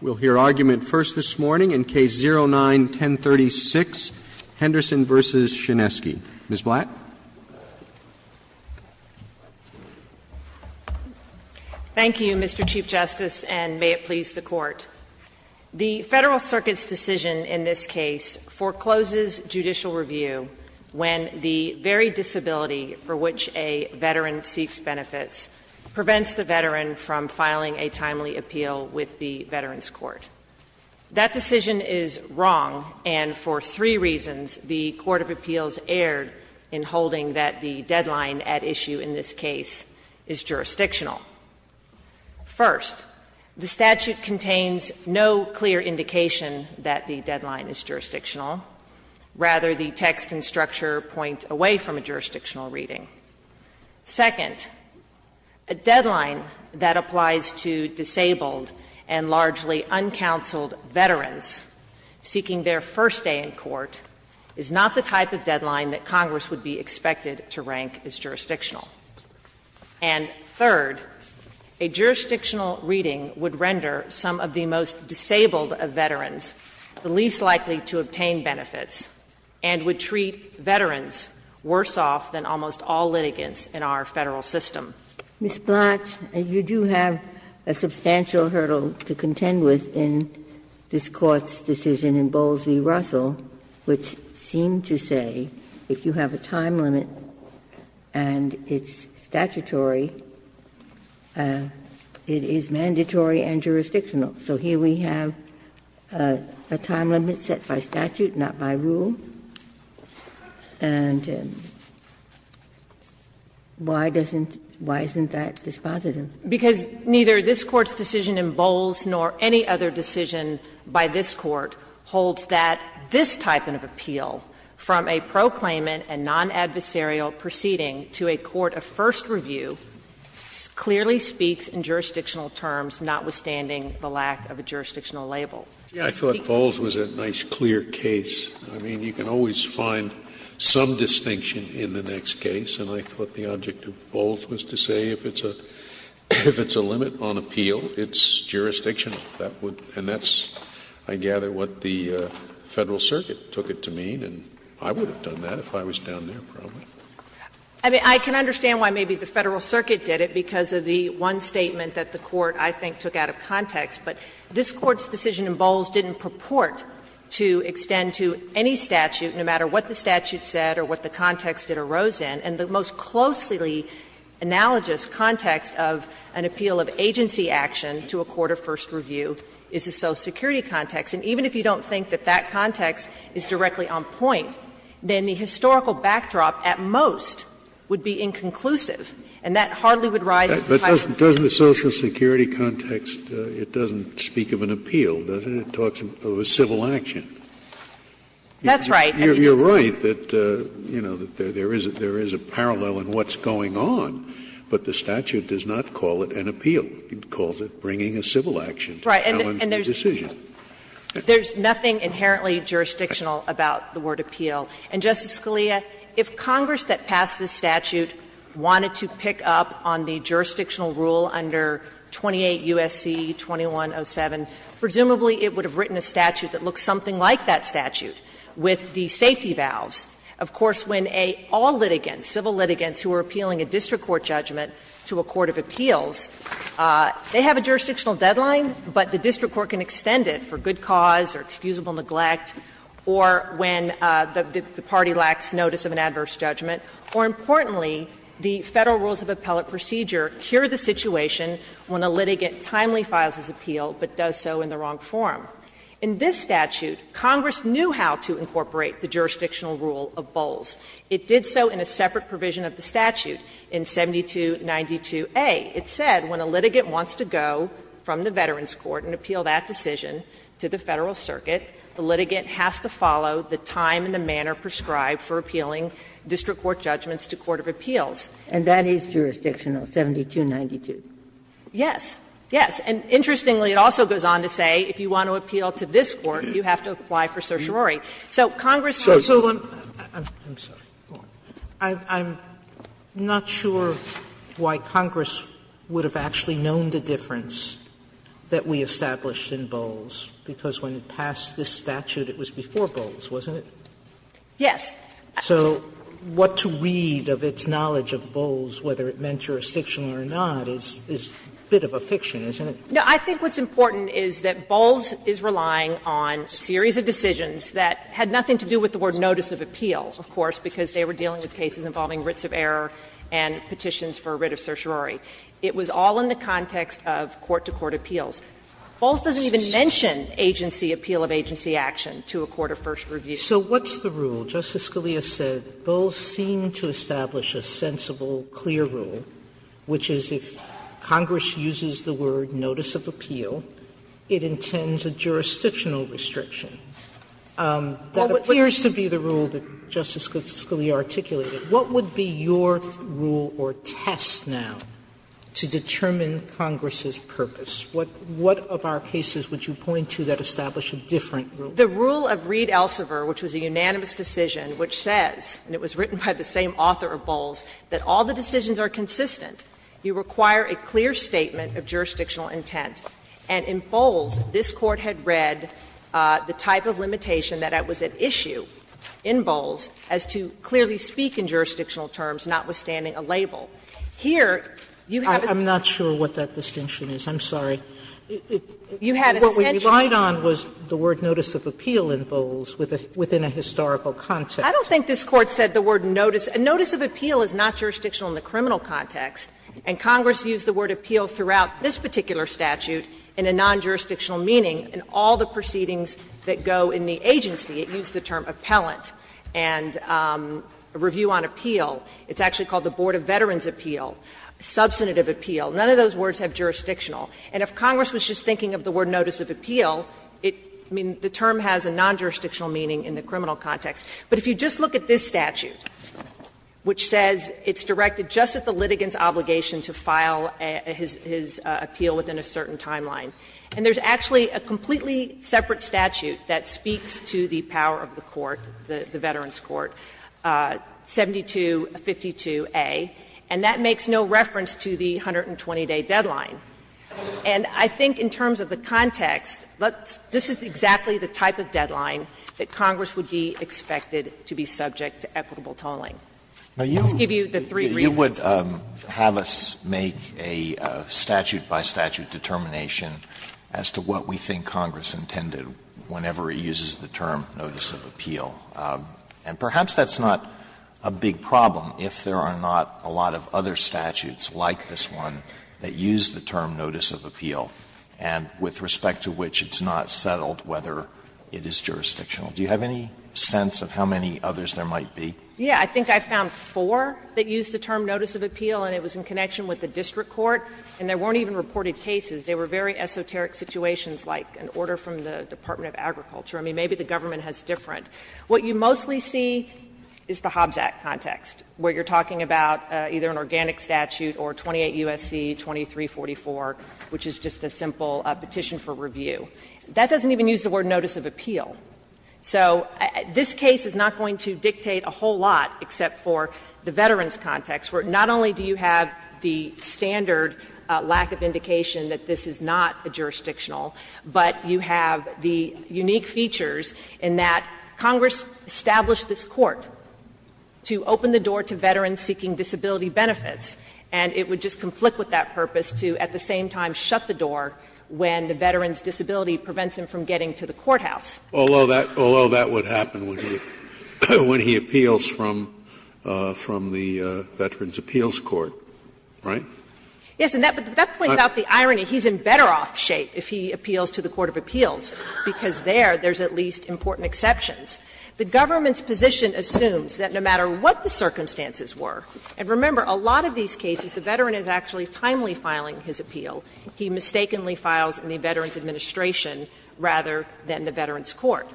We'll hear argument first this morning in Case 09-1036, Henderson v. Shinseki. Ms. Blatt. Thank you, Mr. Chief Justice, and may it please the Court. The Federal Circuit's decision in this case forecloses judicial review when the very disability for which a veteran seeks benefits prevents the veteran from filing a timely appeal with the Veterans Court. That decision is wrong, and for three reasons the Court of Appeals erred in holding that the deadline at issue in this case is jurisdictional. First, the statute contains no clear indication that the deadline is jurisdictional. Rather, the text and structure point away from a jurisdictional reading. Second, a deadline that applies to disabled and largely uncounseled veterans seeking their first day in court is not the type of deadline that Congress would be expected to rank as jurisdictional. And third, a jurisdictional reading would render some of the most disabled of veterans the least likely to obtain benefits and would treat veterans worse off than almost all litigants in our Federal system. Ms. Blatt, you do have a substantial hurdle to contend with in this Court's decision in Bowles v. Russell, which seemed to say if you have a time limit and it's statutory, it is mandatory and jurisdictional. So here we have a time limit set by statute, not by rule. And why doesn't why isn't that dispositive? Because neither this Court's decision in Bowles nor any other decision by this Court holds that this type of appeal, from a proclaimant and non-adversarial proceeding to a court of first review, clearly speaks in jurisdictional terms, notwithstanding the lack of a jurisdictional label. Scalia, I thought Bowles was a nice, clear case. I mean, you can always find some distinction in the next case. And I thought the object of Bowles was to say if it's a limit on appeal, it's jurisdictional. And that's, I gather, what the Federal Circuit took it to mean. And I would have done that if I was down there, probably. I mean, I can understand why maybe the Federal Circuit did it, because of the one statement that the Court, I think, took out of context. But this Court's decision in Bowles didn't purport to extend to any statute, no matter what the statute said or what the context it arose in. And the most closely analogous context of an appeal of agency action to a court of first review is the Social Security context. And even if you don't think that that context is directly on point, then the historical backdrop at most would be inconclusive. And that hardly would rise to the question. Scalia, doesn't the Social Security context, it doesn't speak of an appeal, does it? It talks of a civil action. That's right. You're right that, you know, there is a parallel in what's going on, but the statute does not call it an appeal. It calls it bringing a civil action to challenge the decision. Right. And there's nothing inherently jurisdictional about the word appeal. And, Justice Scalia, if Congress that passed this statute wanted to pick up on the jurisdictional rule under 28 U.S.C. 2107, presumably it would have written a statute that looks something like that statute with the safety valves. Of course, when all litigants, civil litigants who are appealing a district court judgment to a court of appeals, they have a jurisdictional deadline, but the district court can extend it for good cause or excusable neglect, or when the party lacks notice of an adverse judgment. More importantly, the Federal rules of appellate procedure cure the situation when a litigant timely files his appeal, but does so in the wrong form. In this statute, Congress knew how to incorporate the jurisdictional rule of Bowles. It did so in a separate provision of the statute in 7292a. It said when a litigant wants to go from the Veterans Court and appeal that decision to the Federal circuit, the litigant has to follow the time and the manner prescribed for appealing district court judgments to court of appeals. Sotomayor, and that is jurisdictional, 7292. Yes. Yes. And interestingly, it also goes on to say if you want to appeal to this court, you have to apply for certiorari. So Congress can't do that. Sotomayor, I'm not sure why Congress would have actually known the difference that we established in Bowles, because when it passed this statute, it was before Bowles, wasn't it? Yes. So what to read of its knowledge of Bowles, whether it meant jurisdictional or not, is a bit of a fiction, isn't it? No. I think what's important is that Bowles is relying on a series of decisions that had nothing to do with the word notice of appeals, of course, because they were dealing with cases involving writs of error and petitions for a writ of certiorari. It was all in the context of court-to-court appeals. Bowles doesn't even mention agency, appeal of agency action to a court of first review. Sotomayor, so what's the rule? Justice Scalia said Bowles seemed to establish a sensible, clear rule, which is if Congress uses the word notice of appeal, it intends a jurisdictional restriction. That appears to be the rule that Justice Scalia articulated. What would be your rule or test now to determine Congress's purpose? What of our cases would you point to that establish a different rule? The rule of Reed-Elsever, which was a unanimous decision, which says, and it was written by the same author of Bowles, that all the decisions are consistent. You require a clear statement of jurisdictional intent. And in Bowles, this Court had read the type of limitation that was at issue in Bowles as to clearly speak in jurisdictional terms, notwithstanding a label. Here, you have a sense that you have a distinction. Sotomayor, I'm not sure what that distinction is. I'm sorry. You had a sense that you have a distinction. I'm not sure what the distinction is. I'm not sure what the distinction is between the word notice of appeal and the term of appeal in Bowles within a historical context. I don't think this Court said the word notice. A notice of appeal is not jurisdictional in the criminal context. And Congress used the word appeal throughout this particular statute in a non-jurisdictional meaning in all the proceedings that go in the agency. It used the term appellant and review on appeal. It's actually called the Board of Veterans' Appeal, substantive appeal. None of those words have jurisdictional. And if Congress was just thinking of the word notice of appeal, it means the term has a non-jurisdictional meaning in the criminal context. But if you just look at this statute, which says it's directed just at the litigant's obligation to file his appeal within a certain timeline, and there's actually a completely separate statute that speaks to the power of the court, the Veterans' Appeals Court, 7252a, and that makes no reference to the 120-day deadline. And I think in terms of the context, this is exactly the type of deadline that Congress would be expected to be subject to equitable tolling. Let's give you the three reasons. Alito, you would have us make a statute-by-statute determination as to what we think Congress intended whenever it uses the term notice of appeal. And perhaps that's not a big problem if there are not a lot of other statutes like this one that use the term notice of appeal and with respect to which it's not settled whether it is jurisdictional. Do you have any sense of how many others there might be? Yeah. I think I found four that used the term notice of appeal, and it was in connection with the district court, and there weren't even reported cases. They were very esoteric situations like an order from the Department of Agriculture. I mean, maybe the government has different. What you mostly see is the Hobbs Act context, where you're talking about either an organic statute or 28 U.S.C. 2344, which is just a simple petition for review. That doesn't even use the word notice of appeal. So this case is not going to dictate a whole lot except for the veterans context, where not only do you have the standard lack of indication that this is not jurisdictional, but you have the unique features in that Congress established this court to open the door to veterans seeking disability benefits, and it would just conflict with that purpose to at the same time shut the door when the veteran's disability prevents him from getting to the courthouse. Although that would happen when he appeals from the Veterans' Appeals Court, right? Yes. But that points out the irony. He's in better off shape if he appeals to the court of appeals, because there, there's at least important exceptions. The government's position assumes that no matter what the circumstances were, and remember, a lot of these cases the veteran is actually timely filing his appeal. He mistakenly files in the Veterans Administration rather than the Veterans Court.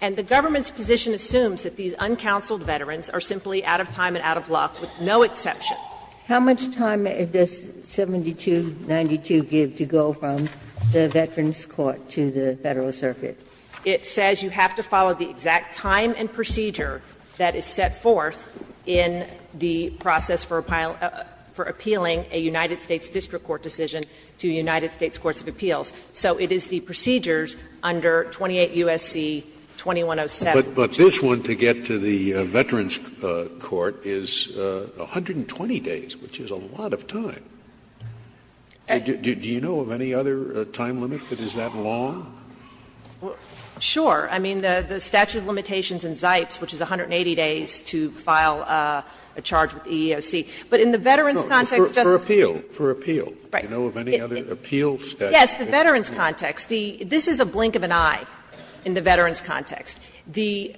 And the government's position assumes that these uncounseled veterans are simply out of time and out of luck, with no exception. How much time does 7292 give to go from the Veterans Court to the Federal Circuit? It says you have to follow the exact time and procedure that is set forth in the process for appealing a United States district court decision to United States courts of appeals. So it is the procedures under 28 U.S.C. 2107. Scalia, but this one to get to the Veterans Court is 120 days, which is a lot of time. Do you know of any other time limit that is that long? Sure. I mean, the statute of limitations in Zipes, which is 180 days to file a charge with the EEOC. But in the veterans' context, Justice Scalia. For appeal, for appeal. Right. Do you know of any other appeal statute? Yes. The veterans' context. This is a blink of an eye in the veterans' context. The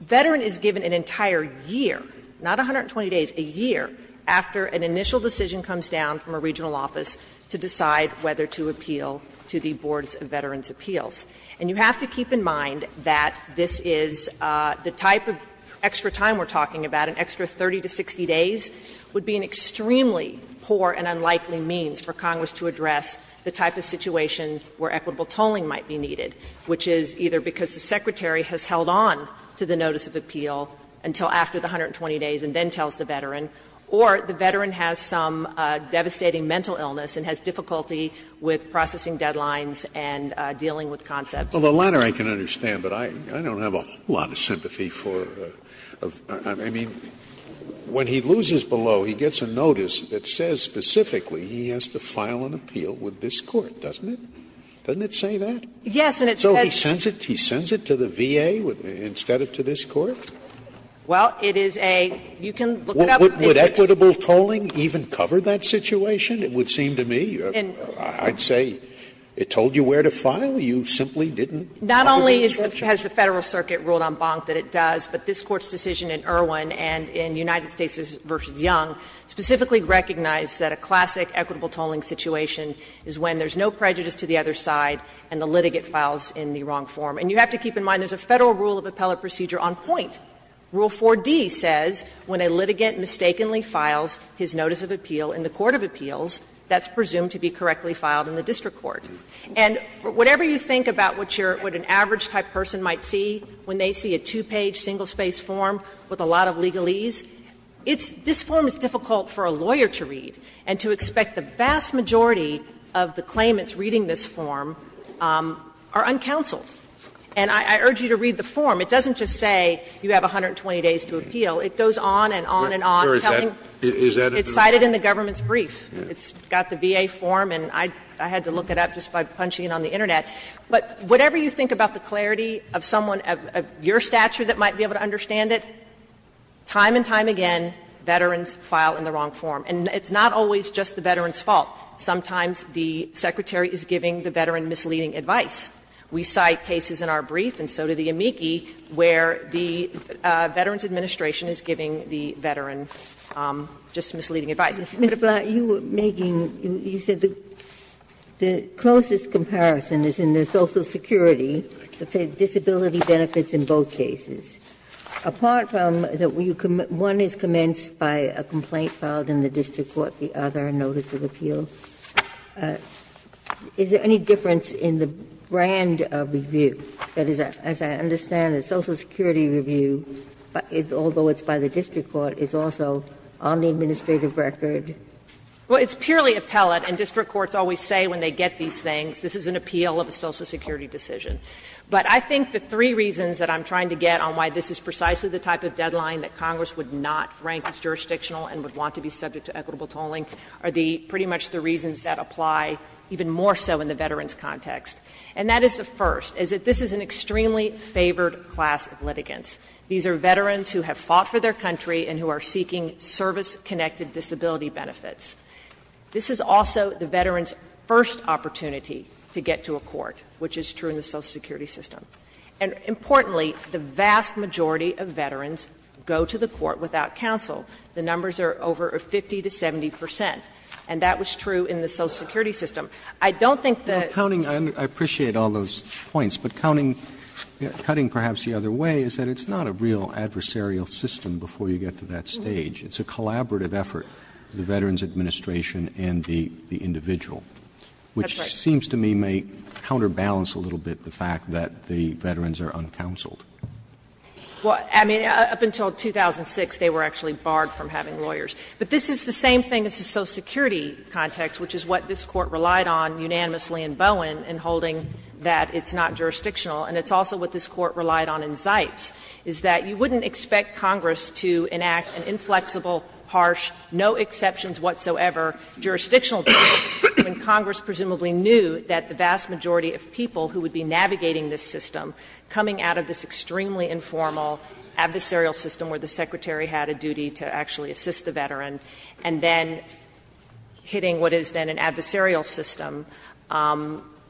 veteran is given an entire year, not 120 days, a year after an initial decision comes down from a regional office to decide whether to appeal to the boards of veterans' appeals. And you have to keep in mind that this is the type of extra time we're talking about. An extra 30 to 60 days would be an extremely poor and unlikely means for Congress to address the type of situation where equitable tolling might be needed, which is either because the Secretary has held on to the notice of appeal until after the 120 days and then tells the veteran, or the veteran has some devastating mental illness and has difficulty with processing deadlines and dealing with concepts. Well, the latter I can understand, but I don't have a whole lot of sympathy for the veteran. I mean, when he loses below, he gets a notice that says specifically he has to file an appeal with this Court, doesn't it? Doesn't it say that? Yes, and it says that. Scalia So he sends it to the VA instead of to this Court? Well, it is a you can look it up. Would equitable tolling even cover that situation, it would seem to me? I'd say it told you where to file. You simply didn't cover the description. Not only has the Federal Circuit ruled en banc that it does, but this Court's decision in Irwin and in United States v. Young specifically recognized that a classic equitable tolling situation is when there's no prejudice to the other side and the other person is in the wrong form. And you have to keep in mind there's a Federal rule of appellate procedure on point. Rule 4D says when a litigant mistakenly files his notice of appeal in the court of appeals, that's presumed to be correctly filed in the district court. And whatever you think about what your what an average type person might see when they see a two-page, single-spaced form with a lot of legalese, it's this form is difficult for a lawyer to read and to expect the vast majority of the claimants reading this form are uncounseled. And I urge you to read the form. It doesn't just say you have 120 days to appeal. It goes on and on and on, telling you it's cited in the government's brief. It's got the VA form, and I had to look it up just by punching it on the Internet. But whatever you think about the clarity of someone of your stature that might be able to understand it, time and time again, veterans file in the wrong form. And it's not always just the veteran's fault. Sometimes the Secretary is giving the veteran misleading advice. We cite cases in our brief, and so did the amici, where the Veterans Administration is giving the veteran just misleading advice. Ginsburg. Ginsburg. You were making, you said the closest comparison is in the social security, let's say disability benefits in both cases. Apart from that one is commenced by a complaint filed in the district court, the other is a notice of appeal. Is there any difference in the brand of review? That is, as I understand it, social security review, although it's by the district court, is also on the administrative record. Well, it's purely appellate, and district courts always say when they get these things, this is an appeal of a social security decision. But I think the three reasons that I'm trying to get on why this is precisely the type of deadline that Congress would not rank as jurisdictional and would want to be subject to equitable tolling are pretty much the reasons that apply even more so in the veteran's context. And that is the first, is that this is an extremely favored class of litigants. These are veterans who have fought for their country and who are seeking service-connected disability benefits. This is also the veteran's first opportunity to get to a court, which is true in the social security system. And importantly, the vast majority of veterans go to the court without counsel. The numbers are over 50 to 70 percent, and that was true in the social security system. I don't think that the other way is that it's not a real adversarial system before you get to that stage. It's a collaborative effort, the Veterans Administration and the individual. Which seems to me may counterbalance a little bit the fact that the veterans are uncounseled. Well, I mean, up until 2006, they were actually barred from having lawyers. But this is the same thing as the social security context, which is what this Court relied on unanimously in Bowen in holding that it's not jurisdictional. And it's also what this Court relied on in Zipes, is that you wouldn't expect Congress to enact an inflexible, harsh, no exceptions whatsoever jurisdictional deal when Congress presumably knew that the vast majority of people who would be navigating this system, coming out of this extremely informal adversarial system where the Secretary had a duty to actually assist the veteran, and then hitting what is then an adversarial system,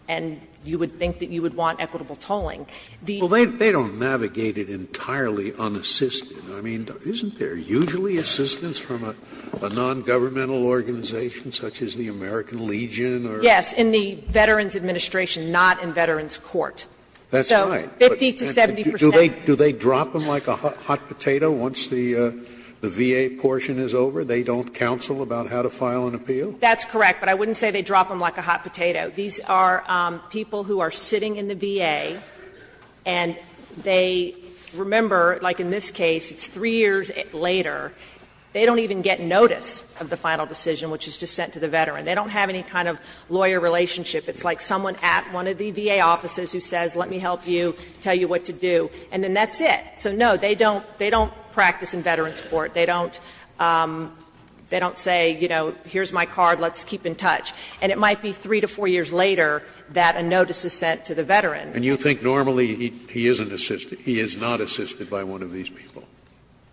and you would think that you would want equitable tolling. The other thing is that the Veterans Administration, in the case of Zipes, is not unassisted. I mean, isn't there usually assistance from a nongovernmental organization such as the American Legion or? Yes, in the Veterans Administration, not in Veterans Court. That's right. So 50 to 70 percent. Do they drop them like a hot potato once the VA portion is over? They don't counsel about how to file an appeal? That's correct. But I wouldn't say they drop them like a hot potato. These are people who are sitting in the VA, and they remember, like in this case, it's three years later, they don't even get notice of the final decision, which is just sent to the veteran. They don't have any kind of lawyer relationship. It's like someone at one of the VA offices who says, let me help you, tell you what to do, and then that's it. So, no, they don't practice in Veterans Court. They don't say, you know, here's my card, let's keep in touch. And it might be 3 to 4 years later that a notice is sent to the veteran. And you think normally he isn't assisted, he is not assisted by one of these people?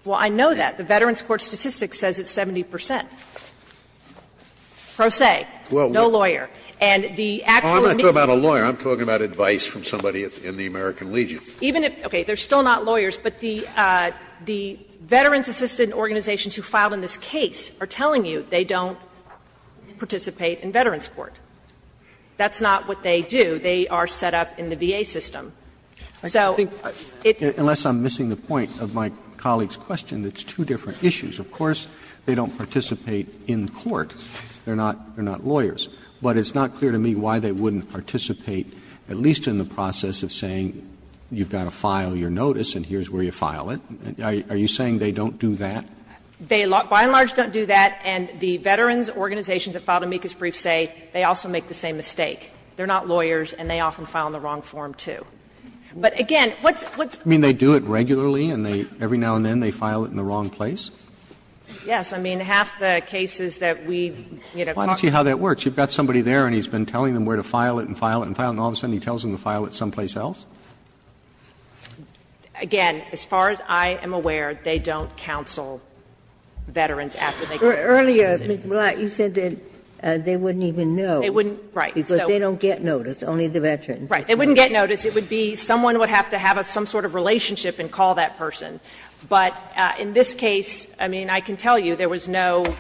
Well, I know that. The Veterans Court statistics says it's 70 percent. Pro se, no lawyer. And the actual amicus. Scalia, I'm not talking about a lawyer. I'm talking about advice from somebody in the American Legion. Even if, okay, they are still not lawyers, but the veterans-assisted organizations who filed in this case are telling you they don't participate in Veterans Court. That's not what they do. They are set up in the VA system. So, it's. Unless I'm missing the point of my colleague's question, it's two different issues. Of course, they don't participate in court. They are not lawyers. But it's not clear to me why they wouldn't participate, at least in the process of saying you've got to file your notice and here's where you file it. Are you saying they don't do that? They by and large don't do that. And the veterans organizations that filed amicus briefs say they also make the same mistake. They are not lawyers and they often file in the wrong form, too. But again, what's. I mean, they do it regularly and every now and then they file it in the wrong place? Yes. I mean, half the cases that we, you know. Why don't you see how that works? You've got somebody there and he's been telling them where to file it and file it and file it, and all of a sudden he tells them to file it someplace else? Again, as far as I am aware, they don't counsel veterans after they get notice. Earlier, Ms. Blatt, you said that they wouldn't even know. They wouldn't, right. Because they don't get notice, only the veterans. Right. They wouldn't get notice. It would be someone would have to have some sort of relationship and call that person. But in this case, I mean, I can tell you there was no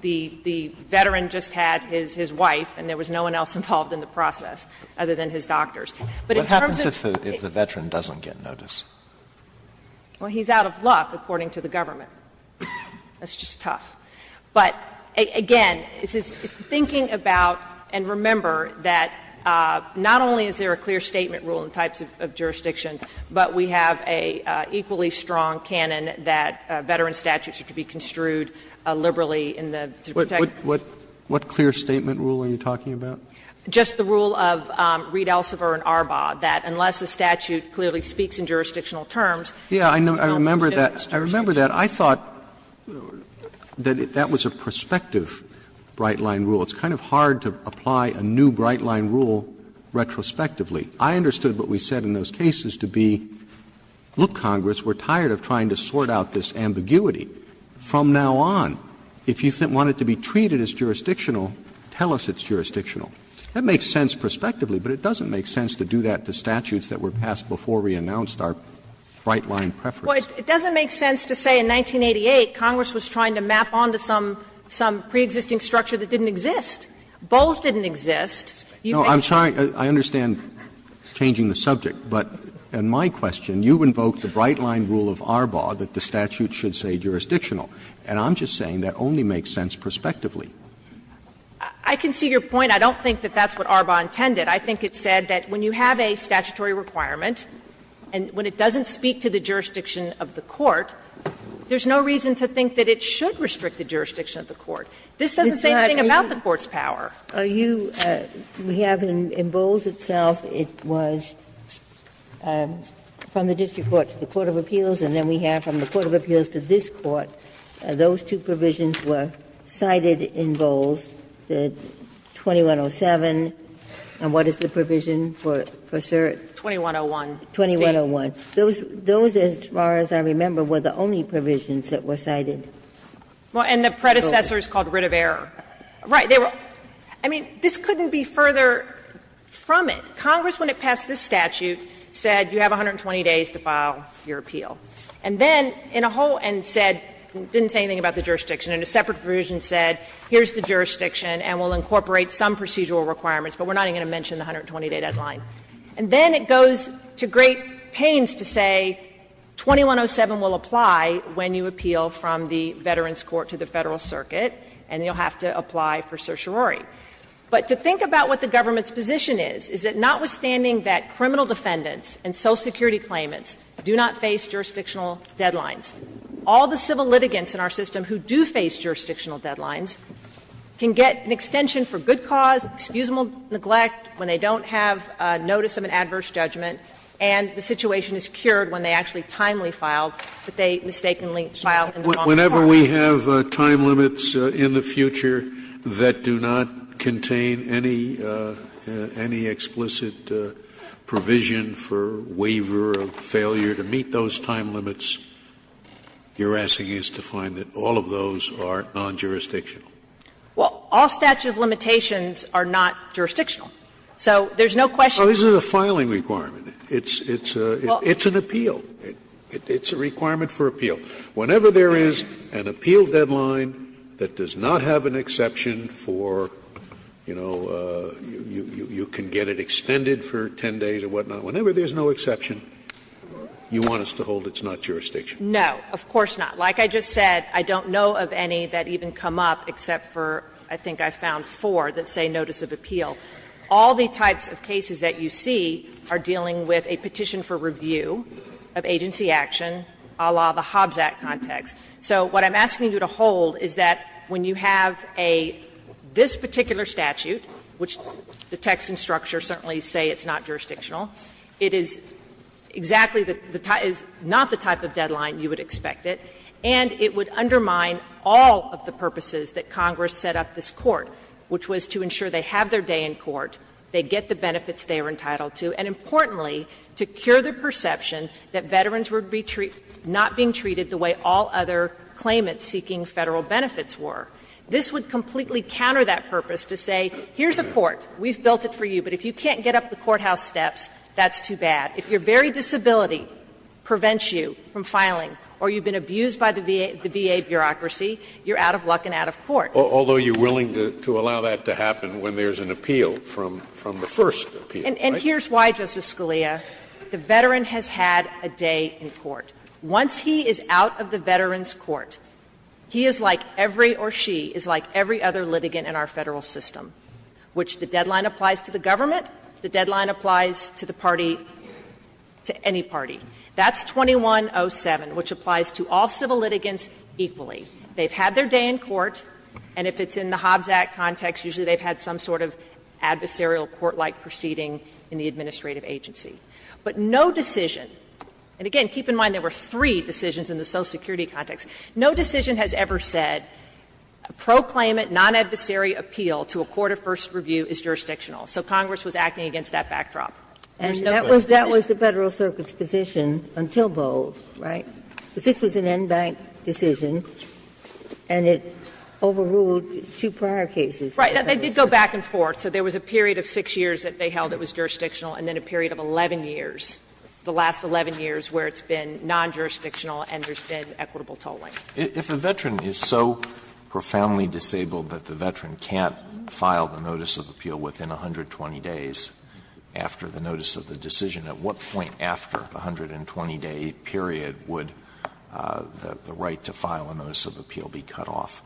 the veteran just had his wife and there was no one else involved in the process other than his doctors. But in terms of. What happens if the veteran doesn't get notice? Well, he's out of luck, according to the government. That's just tough. But again, thinking about and remember that not only is there a clear statement rule in the types of jurisdiction, but we have a equally strong canon that veteran statutes are to be construed liberally in the. What clear statement rule are you talking about? Just the rule of Reed, Elsevier and Arbaugh, that unless a statute clearly speaks in jurisdictional terms. Yeah, I remember that. I remember that. I thought that that was a prospective bright-line rule. It's kind of hard to apply a new bright-line rule retrospectively. I understood what we said in those cases to be, look, Congress, we're tired of trying to sort out this ambiguity. From now on, if you want it to be treated as jurisdictional, tell us it's jurisdictional. That makes sense prospectively, but it doesn't make sense to do that to statutes that were passed before we announced our bright-line preference. Well, it doesn't make sense to say in 1988 Congress was trying to map on to some preexisting structure that didn't exist. Bowles didn't exist. You make it. No, I'm sorry, I understand changing the subject, but in my question, you invoke the bright-line rule of Arbaugh that the statute should say jurisdictional, and I'm just saying that only makes sense prospectively. I can see your point. I don't think that that's what Arbaugh intended. I think it said that when you have a statutory requirement and when it doesn't speak to the jurisdiction of the court, there's no reason to think that it should restrict the jurisdiction of the court. This doesn't say anything about the court's power. Ginsburg. We have in Bowles itself, it was from the district court to the court of appeals, and then we have from the court of appeals to this court, those two provisions were cited in Bowles, the 2107, and what is the provision for cert? 2101. 2101. Those, as far as I remember, were the only provisions that were cited. And the predecessor is called writ of error. Right. I mean, this couldn't be further from it. Congress, when it passed this statute, said you have 120 days to file your appeal. And then in a whole end said, didn't say anything about the jurisdiction, and a separate provision said here's the jurisdiction and we'll incorporate some procedural requirements, but we're not even going to mention the 120-day deadline. And then it goes to great pains to say 2107 will apply when you appeal from the Veterans Court to the Federal Circuit, and you'll have to apply for certiorari. But to think about what the government's position is, is that notwithstanding that criminal defendants and Social Security claimants do not face jurisdictional deadlines, all the civil litigants in our system who do face jurisdictional deadlines can get an extension for good cause, excusable neglect when they don't have notice of an adverse judgment, and the situation is cured when they actually are timely filed, but they mistakenly file in the wrong department. Scalia, whenever we have time limits in the future that do not contain any explicit provision for waiver of failure to meet those time limits, you're asking us to find that all of those are non-jurisdictional? Well, all statute of limitations are not jurisdictional. So there's no question. So this is a filing requirement. It's an appeal. It's a requirement for appeal. Whenever there is an appeal deadline that does not have an exception for, you know, you can get it extended for 10 days or whatnot, whenever there's no exception, you want us to hold it's not jurisdictional? No, of course not. Like I just said, I don't know of any that even come up except for, I think I found four, that say notice of appeal. All the types of cases that you see are dealing with a petition for review of agency action, a la the Hobbs Act context. So what I'm asking you to hold is that when you have a this particular statute, which the text and structure certainly say it's not jurisdictional, it is exactly the type of the deadline you would expect it, and it would undermine all of the purposes that Congress set up this Court, which was to ensure they have their day in court, they get the benefits they are entitled to, and importantly, to cure the perception that veterans were not being treated the way all other claimants seeking Federal benefits were. This would completely counter that purpose to say, here's a court, we've built it for you, but if you can't get up the courthouse steps, that's too bad. If your very disability prevents you from filing or you've been abused by the VA bureaucracy, you're out of luck and out of court. Scalia, although you're willing to allow that to happen when there's an appeal from the first appeal, right? And here's why, Justice Scalia. The veteran has had a day in court. Once he is out of the veteran's court, he is like every or she is like every other litigant in our Federal system, which the deadline applies to the government, the deadline applies to the party, to any party. That's 2107, which applies to all civil litigants equally. They've had their day in court, and if it's in the Hobbs Act context, usually they've had some sort of adversarial court-like proceeding in the administrative agency. But no decision, and again, keep in mind there were three decisions in the Social Security context, no decision has ever said proclaimant, non-adversary appeal to a court of first review is jurisdictional. So Congress was acting against that backdrop. And there's no such thing. Ginsburg, and that was the Federal Circuit's position until Bowles, right? This was an en banc decision, and it overruled two prior cases. Right. They did go back and forth. So there was a period of 6 years that they held it was jurisdictional, and then a period of 11 years, the last 11 years where it's been non-jurisdictional and there's been equitable tolling. If a veteran is so profoundly disabled that the veteran can't file the notice of appeal within 120 days after the notice of the decision, at what point after the last 120-day period would the right to file a notice of appeal be cut off?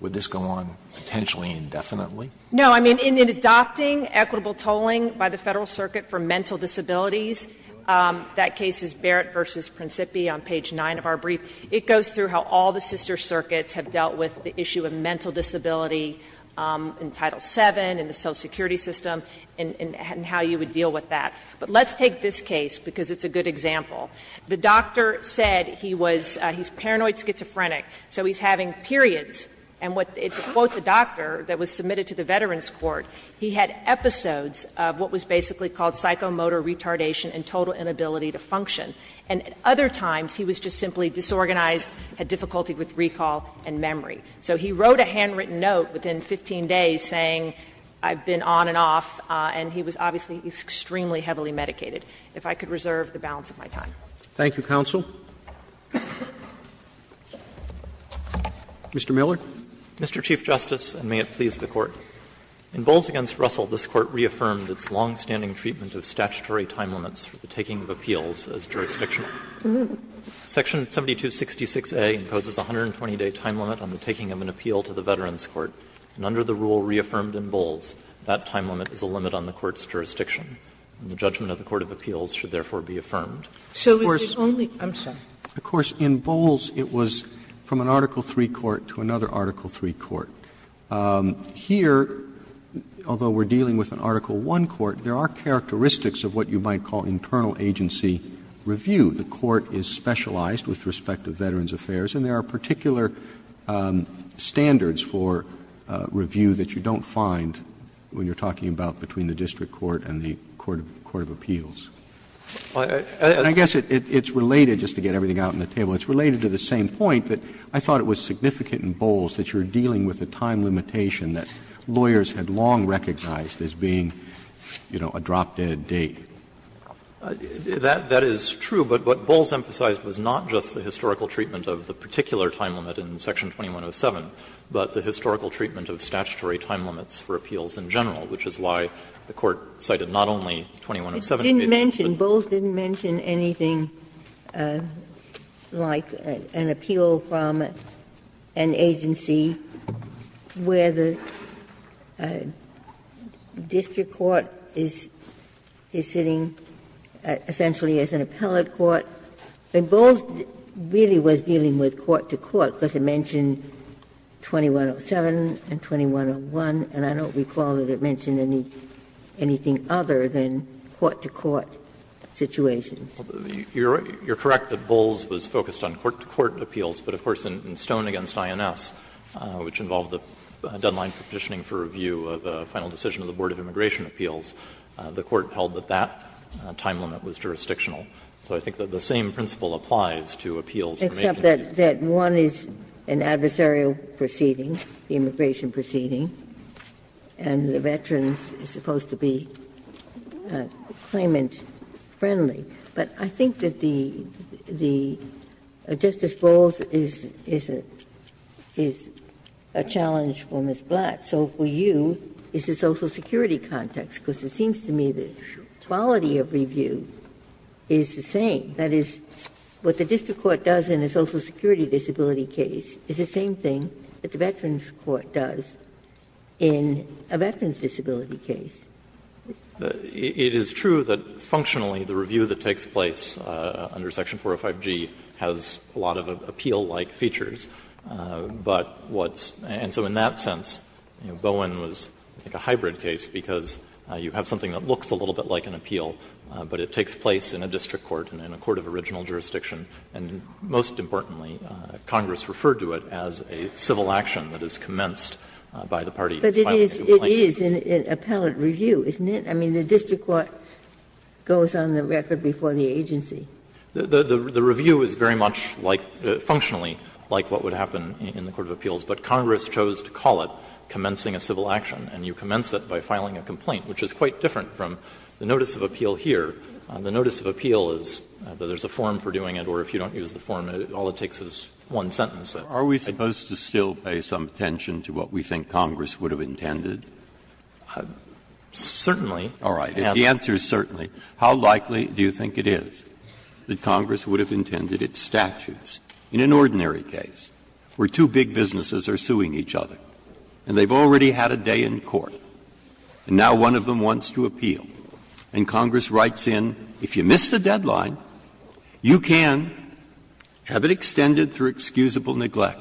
Would this go on potentially indefinitely? No. I mean, in adopting equitable tolling by the Federal Circuit for mental disabilities, that case is Barrett v. Principi on page 9 of our brief, it goes through how all the sister circuits have dealt with the issue of mental disability in Title VII, in the Social Security system, and how you would deal with that. But let's take this case, because it's a good example. The doctor said he was he's paranoid schizophrenic, so he's having periods. And what the doctor that was submitted to the Veterans Court, he had episodes of what was basically called psychomotor retardation and total inability to function. And other times he was just simply disorganized, had difficulty with recall and memory. So he wrote a handwritten note within 15 days saying, I've been on and off, and he was obviously extremely heavily medicated, if I could reserve the balance of my time. Thank you, counsel. Mr. Miller. Mr. Chief Justice, and may it please the Court. In Bowles v. Russell, this Court reaffirmed its longstanding treatment of statutory time limits for the taking of appeals as jurisdictional. Section 7266a imposes a 120-day time limit on the taking of an appeal to the Veterans Court, and under the rule reaffirmed in Bowles, that time limit is a limit on the Court's jurisdiction. The judgment of the court of appeals should therefore be affirmed. Of course, in Bowles, it was from an Article III court to another Article III court. Here, although we're dealing with an Article I court, there are characteristics of what you might call internal agency review. The court is specialized with respect to Veterans Affairs, and there are particular standards for review that you don't find when you're talking about between the district court and the court of appeals. And I guess it's related, just to get everything out on the table, it's related to the same point that I thought it was significant in Bowles that you're dealing with a time limitation that lawyers had long recognized as being, you know, a drop-dead date. That is true, but what Bowles emphasized was not just the historical treatment of the particular time limit in Section 2107, but the historical treatment of statutory time limits for appeals in general, which is why the Court cited not only 2107. Ginsburg. Bowles didn't mention anything like an appeal from an agency where the district court is sitting essentially as an appellate court. And Bowles really was dealing with court-to-court, because it mentioned 2107 and 2101, and I don't recall that it mentioned anything other than court-to-court situations. You're correct that Bowles was focused on court-to-court appeals, but of course in Stone v. INS, which involved the deadline for petitioning for review of the final decision of the Board of Immigration Appeals, the Court held that that time limit was jurisdictional. So I think that the same principle applies to appeals from agencies. Ginsburg. Except that one is an adversarial proceeding, the immigration proceeding, and the veterans are supposed to be claimant-friendly. But I think that the Justice Bowles is a challenge for Ms. Blatt, so for you, it's It is true that functionally the review that takes place under section 405G has a lot of appeal-like features, but what's – and so in that sense, Bowen was, I think, because you have something that looks a little bit like an appeal, but it takes place in a district court, in a court of original jurisdiction, and most importantly, Congress referred to it as a civil action that is commenced by the parties filing a complaint. Ginsburg. But it is an appellate review, isn't it? I mean, the district court goes on the record before the agency. The review is very much like, functionally, like what would happen in the court of appeals, but Congress chose to call it commencing a civil action, and you commence it by filing a complaint, which is quite different from the notice of appeal here. The notice of appeal is that there's a form for doing it, or if you don't use the form, all it takes is one sentence. Breyer. Breyer. Are we supposed to still pay some attention to what we think Congress would have intended? Certainly. All right. The answer is certainly. How likely do you think it is that Congress would have intended its statutes? In an ordinary case, where two big businesses are suing each other, and they've already had a day in court, and now one of them wants to appeal, and Congress writes in, if you miss the deadline, you can have it extended through excusable neglect,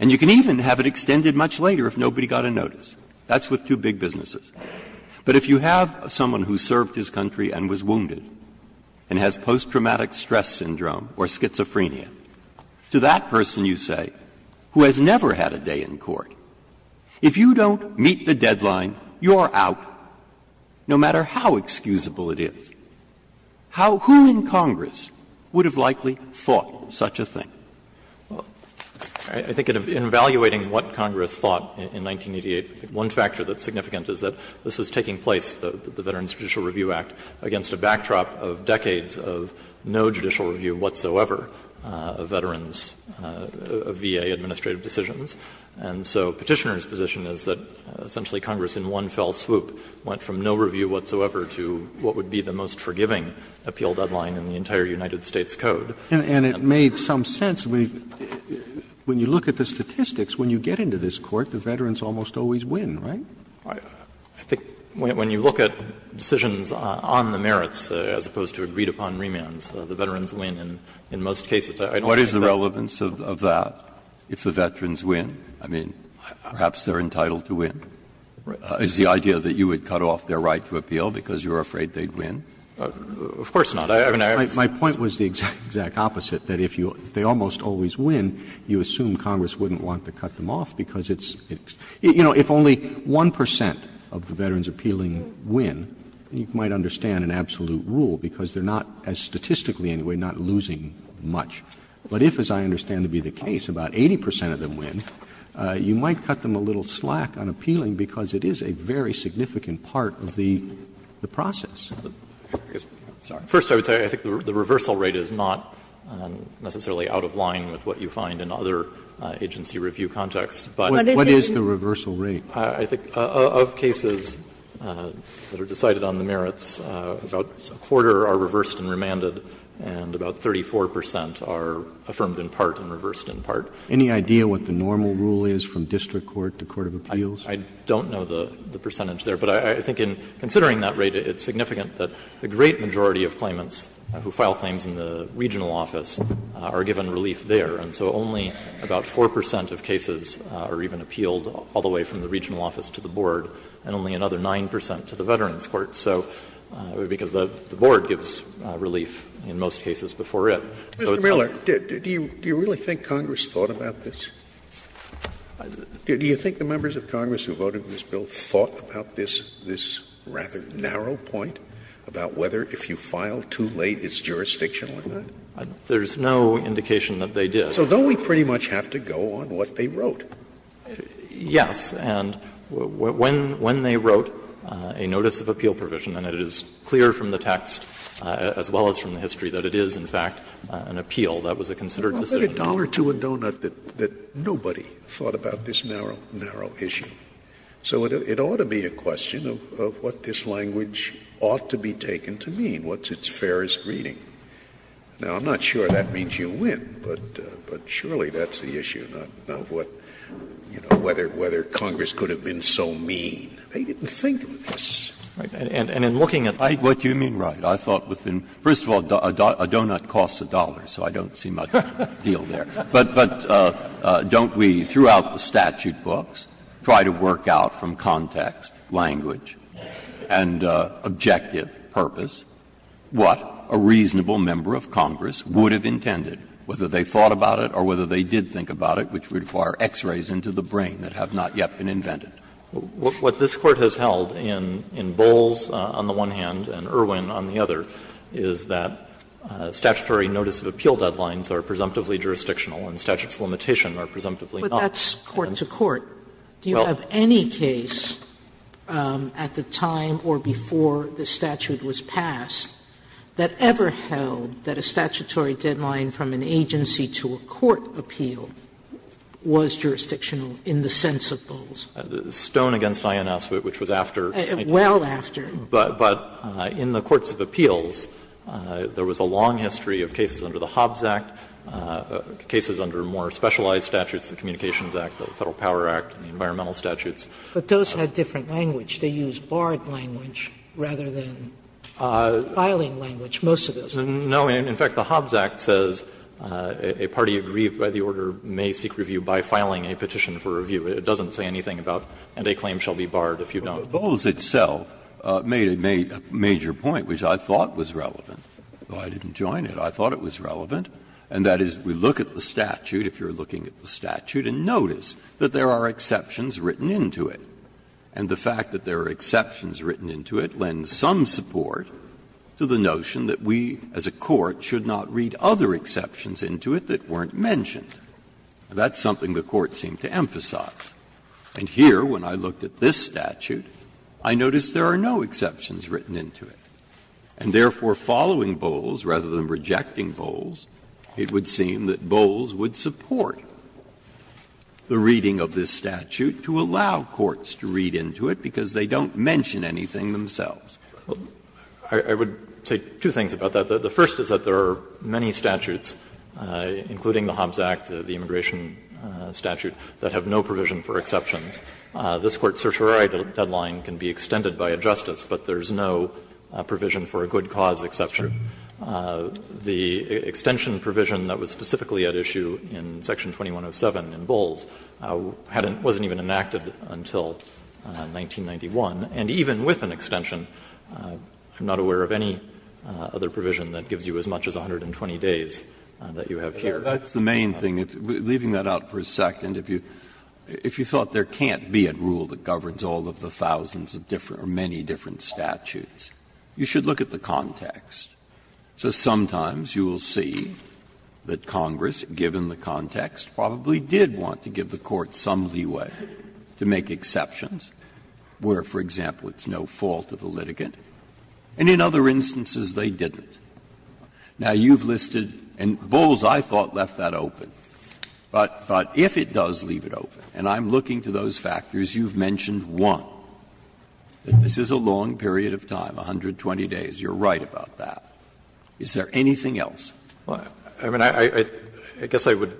and you can even have it extended much later if nobody got a notice. That's with two big businesses. But if you have someone who served his country and was wounded and has post-traumatic stress syndrome or schizophrenia, to that person, you say, who has never had a day in court, if you don't meet the deadline, you're out, no matter how excusable it is. How — who in Congress would have likely thought such a thing? Well, I think in evaluating what Congress thought in 1988, one factor that's significant is that this was taking place, the Veterans Judicial Review Act, against a backdrop of decades of no judicial review whatsoever of veterans' VA administrative decisions. And so Petitioner's position is that essentially Congress in one fell swoop went from no review whatsoever to what would be the most forgiving appeal deadline in the entire United States Code. And it made some sense when you look at the statistics, when you get into this court, the veterans almost always win, right? I think when you look at decisions on the merits, as opposed to agreed-upon remands, the veterans win in most cases. I don't think that's the case. Breyer, what is the relevance of that, if the veterans win? I mean, perhaps they're entitled to win. Is the idea that you would cut off their right to appeal because you're afraid they'd win? Of course not. I mean, I have a sense. My point was the exact opposite, that if you — if they almost always win, you assume that if 1 percent of the veterans appealing win, you might understand an absolute rule, because they're not, as statistically anyway, not losing much. But if, as I understand to be the case, about 80 percent of them win, you might cut them a little slack on appealing because it is a very significant part of the process. I'm sorry. First, I would say I think the reversal rate is not necessarily out of line with what you find in other agency review contexts, but what is the reversal rate? I think of cases that are decided on the merits, about a quarter are reversed and remanded, and about 34 percent are affirmed in part and reversed in part. Any idea what the normal rule is from district court to court of appeals? I don't know the percentage there. But I think in considering that rate, it's significant that the great majority of claimants who file claims in the regional office are given relief there. And so only about 4 percent of cases are even appealed all the way from the regional office to the board, and only another 9 percent to the veterans court. So, because the board gives relief in most cases before it. So it's not as. Scalia, Mr. Miller, do you really think Congress thought about this? Do you think the members of Congress who voted this bill thought about this rather narrow point about whether if you file too late, it's jurisdictional? Miller, there's no indication that they did. Scalia, So don't we pretty much have to go on what they wrote? Miller, yes. And when they wrote a notice of appeal provision, and it is clear from the text, as well as from the history, that it is, in fact, an appeal, that was a considered decision. Scalia, Well, put a dollar to a donut that nobody thought about this narrow, narrow issue. So it ought to be a question of what this language ought to be taken to mean. What's its fairest reading? Now, I'm not sure that means you win, but surely that's the issue, not what, you know, whether Congress could have been so mean. They didn't think of this. Breyer, and in looking at what you mean, right, I thought within, first of all, a donut costs a dollar, so I don't see much deal there. But don't we, throughout the statute books, try to work out from context, language, and objective purpose? What? What a reasonable member of Congress would have intended, whether they thought about it or whether they did think about it, which would require X-rays into the brain that have not yet been invented. What this Court has held in Bowles on the one hand and Irwin on the other is that statutory notice of appeal deadlines are presumptively jurisdictional and statute's limitation are presumptively not. Sotomayor, but that's court to court. Do you have any case at the time or before the statute was passed that the statute had ever held that a statutory deadline from an agency to a court appeal was jurisdictional in the sense of Bowles? Stone v. INS, which was after 1990. Well after. But in the courts of appeals, there was a long history of cases under the Hobbs Act, cases under more specialized statutes, the Communications Act, the Federal Power Act, environmental statutes. But those had different language. They used barred language rather than filing language, most of those. No. In fact, the Hobbs Act says a party aggrieved by the order may seek review by filing a petition for review. It doesn't say anything about, and a claim shall be barred if you don't. But Bowles itself made a major point which I thought was relevant, but I didn't join it. I thought it was relevant, and that is we look at the statute, if you're looking at the statute, and notice that there are exceptions written into it, and the fact that there are exceptions written into it lends some support to the notion that we as a court should not read other exceptions into it that weren't mentioned. That's something the Court seemed to emphasize. And here, when I looked at this statute, I noticed there are no exceptions written into it. And therefore, following Bowles rather than rejecting Bowles, it would seem that Bowles would support the reading of this statute to allow courts to read into it because they don't mention anything themselves. I would say two things about that. The first is that there are many statutes, including the Hobbs Act, the immigration statute, that have no provision for exceptions. This Court's certiorari deadline can be extended by a justice, but there's no provision for a good cause exception. The extension provision that was specifically at issue in Section 2107 in Bowles wasn't even enacted until 1991, and even with an extension, I'm not aware of any other provision that gives you as much as 120 days that you have here. Breyer, that's the main thing. Leaving that out for a second, if you thought there can't be a rule that governs all of the thousands of different or many different statutes, you should look at the context. So sometimes you will see that Congress, given the context, probably did want to give the Court some leeway to make exceptions, where, for example, it's no fault of the litigant, and in other instances they didn't. Now, you've listed, and Bowles, I thought, left that open, but if it does leave it open, and I'm looking to those factors, you've mentioned one, that this is a long period of time, 120 days. You're right about that. Is there anything else? I mean, I guess I would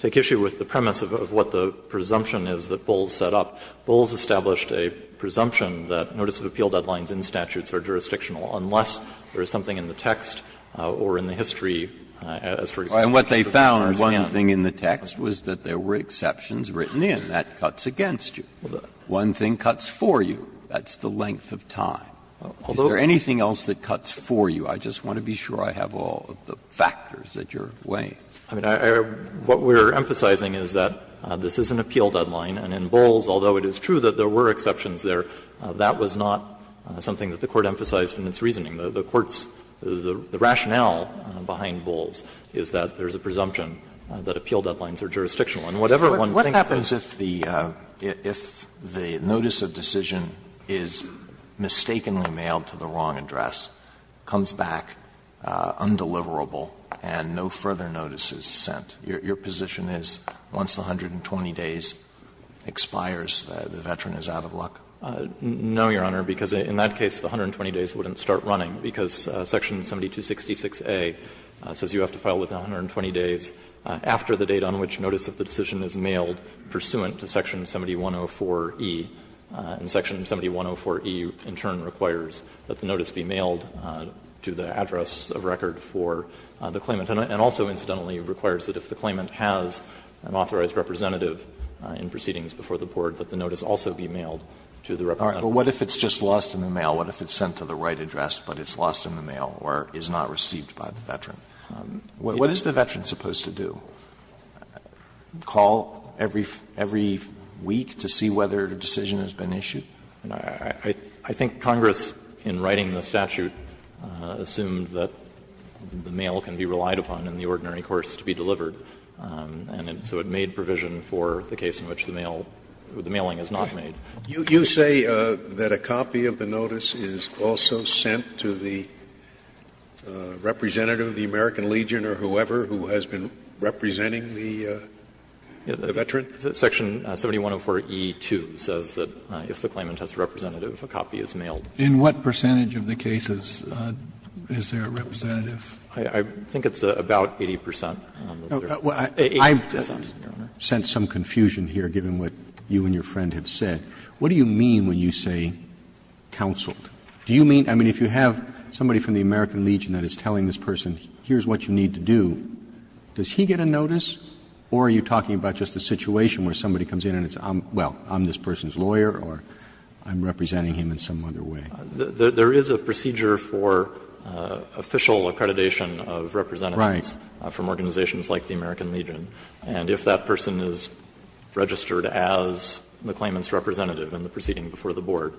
take issue with the premise of what the presumption is that Bowles set up. Bowles established a presumption that notice of appeal deadlines in statutes are jurisdictional, unless there is something in the text or in the history, as for example, the Congress did. Breyer, one thing in the text was that there were exceptions written in. That cuts against you. One thing cuts for you. That's the length of time. Is there anything else that cuts for you? I just want to be sure I have all of the factors at your way. I mean, what we're emphasizing is that this is an appeal deadline, and in Bowles, although it is true that there were exceptions there, that was not something that the Court emphasized in its reasoning. The Court's rationale behind Bowles is that there is a presumption that appeal deadlines are jurisdictional. And whatever one thinks of it. Alito, what happens if the notice of decision is mistakenly mailed to the wrong address, comes back undeliverable, and no further notice is sent? Your position is once the 120 days expires, the veteran is out of luck? No, Your Honor, because in that case, the 120 days wouldn't start running, because section 7266a says you have to file within 120 days after the date on which notice of the decision is mailed pursuant to section 7104e. And section 7104e in turn requires that the notice be mailed to the address of record for the claimant, and also incidentally requires that if the claimant has an authorized representative in proceedings before the board, that the notice also be mailed to the representative. Alito, what if it's just lost in the mail? What if it's sent to the right address, but it's lost in the mail or is not received by the veteran? What is the veteran supposed to do? Call every week to see whether a decision has been issued? I think Congress, in writing the statute, assumed that the mail can be relied upon in the ordinary course to be delivered, and so it made provision for the case in which the mail or the mailing is not made. You say that a copy of the notice is also sent to the representative of the American Legion or whoever who has been representing the veteran? Section 7104e2 says that if the claimant has a representative, a copy is mailed. In what percentage of the cases is there a representative? I think it's about 80 percent. I've sent some confusion here, given what you and your friend have said. What do you mean when you say counseled? Do you mean – I mean, if you have somebody from the American Legion that is telling this person, here's what you need to do, does he get a notice, or are you talking about just a situation where somebody comes in and it's, well, I'm this person's lawyer or I'm representing him in some other way? There is a procedure for official accreditation of representatives from organizations like the American Legion, and if that person is registered as the claimant's representative in the proceeding before the board,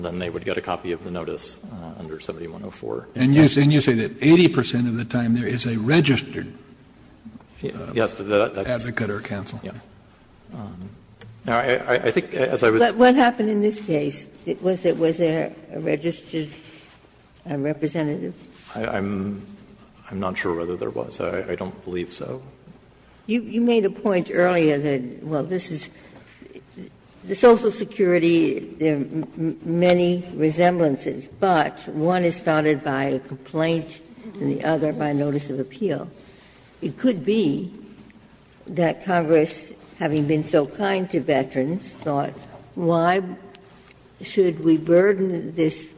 then they would get a copy of the notice under 7104. And you say that 80 percent of the time there is a registered advocate or counsel? Yes. Now, I think as I was saying But what happened in this case? Was there a registered representative? I'm not sure whether there was. I don't believe so. You made a point earlier that, well, this is the Social Security, there are many resemblances, but one is started by a complaint and the other by notice of appeal. It could be that Congress, having been so kind to veterans, thought why should we burden this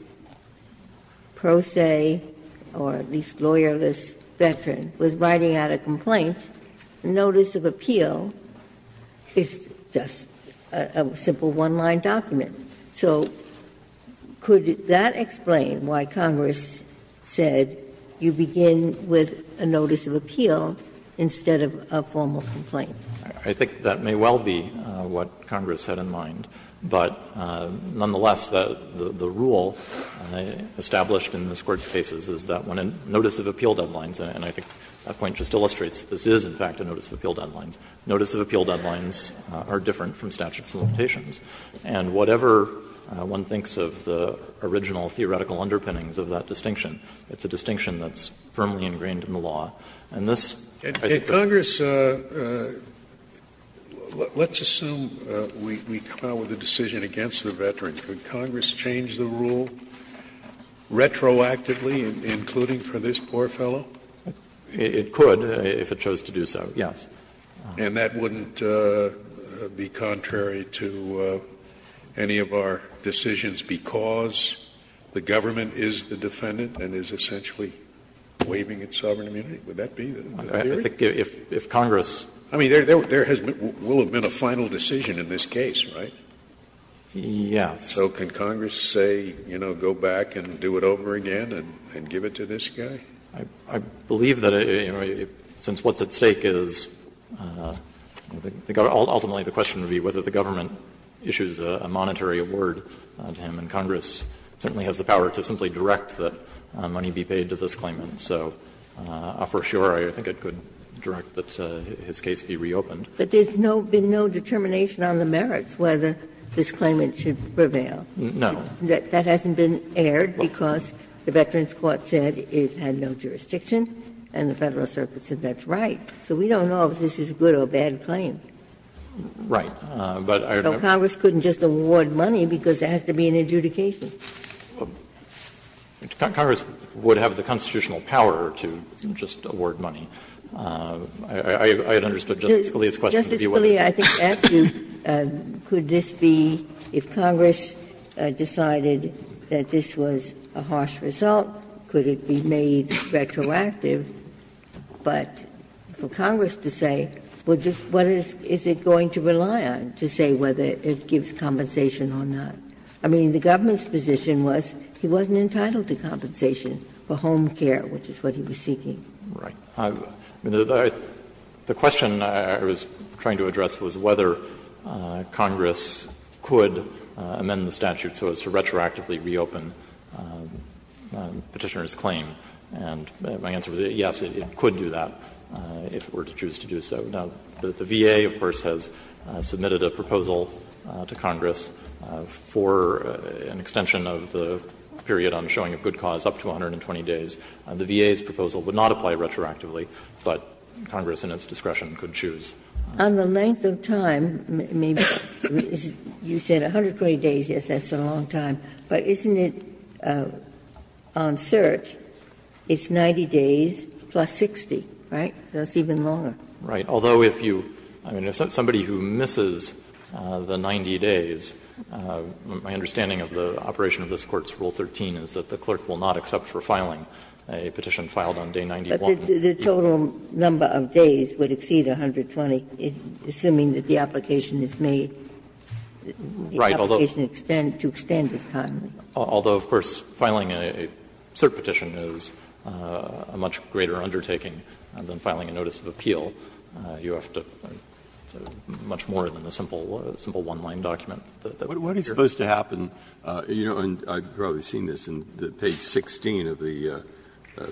pro se or at least lawyerless veteran with writing out a complaint? A notice of appeal is just a simple one-line document. So could that explain why Congress said you begin with a notice of appeal instead of a formal complaint? I think that may well be what Congress had in mind. But nonetheless, the rule established in this Court's cases is that when a notice of appeal deadline, and I think that point just illustrates that this is, in fact, a notice of appeal deadline. Notice of appeal deadlines are different from statute of limitations. And whatever one thinks of the original theoretical underpinnings of that distinction, it's a distinction that's firmly ingrained in the law. And this, I think that's what Congress thought. Scalia, let's assume we come out with a decision against the veteran. Could Congress change the rule retroactively, including for this poor fellow? It could, if it chose to do so, yes. And that wouldn't be contrary to any of our decisions because the government is the defendant and is essentially waiving its sovereign immunity? Would that be the theory? If Congress. I mean, there has been or will have been a final decision in this case, right? Yes. So can Congress say, you know, go back and do it over again and give it to this guy? I believe that, you know, since what's at stake is, ultimately the question would be whether the government issues a monetary award to him. And Congress certainly has the power to simply direct that money be paid to this claimant. So for sure, I think it could direct that his case be reopened. But there's no been no determination on the merits whether this claimant should prevail. No. That hasn't been aired because the Veterans Court said it had no jurisdiction and the Federal Circuit said that's right. So we don't know if this is a good or bad claim. Right. But I don't know. Congress couldn't just award money because there has to be an adjudication. Congress would have the constitutional power to just award money. I understood Justice Scalia's question. Ginsburg. Justice Scalia, I think I asked you, could this be, if Congress decided that this was a harsh result, could it be made retroactive? But for Congress to say, well, just what is it going to rely on to say whether it gives compensation or not? I mean, the government's position was he wasn't entitled to compensation for home care, which is what he was seeking. Right. The question I was trying to address was whether Congress could amend the statute so as to retroactively reopen Petitioner's claim. And my answer was yes, it could do that if it were to choose to do so. Now, the VA, of course, has submitted a proposal to Congress for an extension of the period on showing a good cause up to 120 days. The VA's proposal would not apply retroactively, but Congress in its discretion could choose. Ginsburg. On the length of time, you said 120 days, yes, that's a long time. But isn't it on cert, it's 90 days plus 60, right? So it's even longer. Right. Although if you – I mean, if somebody who misses the 90 days, my understanding of the operation of this Court's Rule 13 is that the clerk will not accept for filing a petition filed on day 91. But the total number of days would exceed 120, assuming that the application is made. Right. The application to extend is timely. Although, of course, filing a cert petition is a much greater undertaking than filing a notice of appeal. You have to do much more than a simple one-line document. Breyer, what is supposed to happen – you know, and I've probably seen this in page 16 of the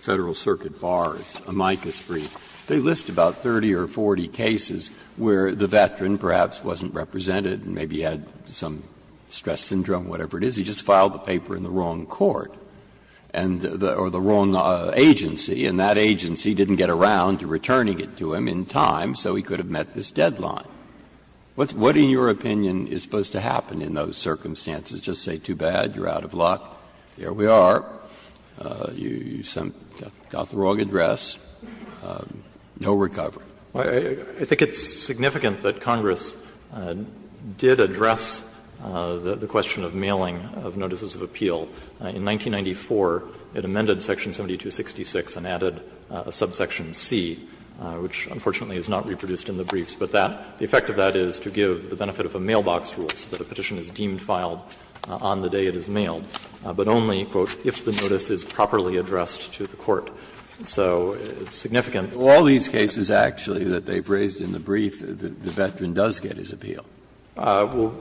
Federal Circuit Bar's amicus brief. They list about 30 or 40 cases where the veteran perhaps wasn't represented and maybe had some stress syndrome, whatever it is. He just filed the paper in the wrong court and the – or the wrong agency, and that agency didn't get around to returning it to him in time, so he could have met this deadline. What in your opinion is supposed to happen in those circumstances? Just say, too bad, you're out of luck, here we are, you got the wrong address, no recovery. I think it's significant that Congress did address the question of mailing of notices of appeal. In 1994, it amended section 7266 and added a subsection C, which unfortunately is not reproduced in the briefs, but that – the effect of that is to give the benefit of a mailbox rule so that a petition is deemed filed on the day it is mailed, but only, quote, if the notice is properly addressed to the court. So it's significant. Breyer, all these cases, actually, that they've raised in the brief, the veteran does get his appeal. No,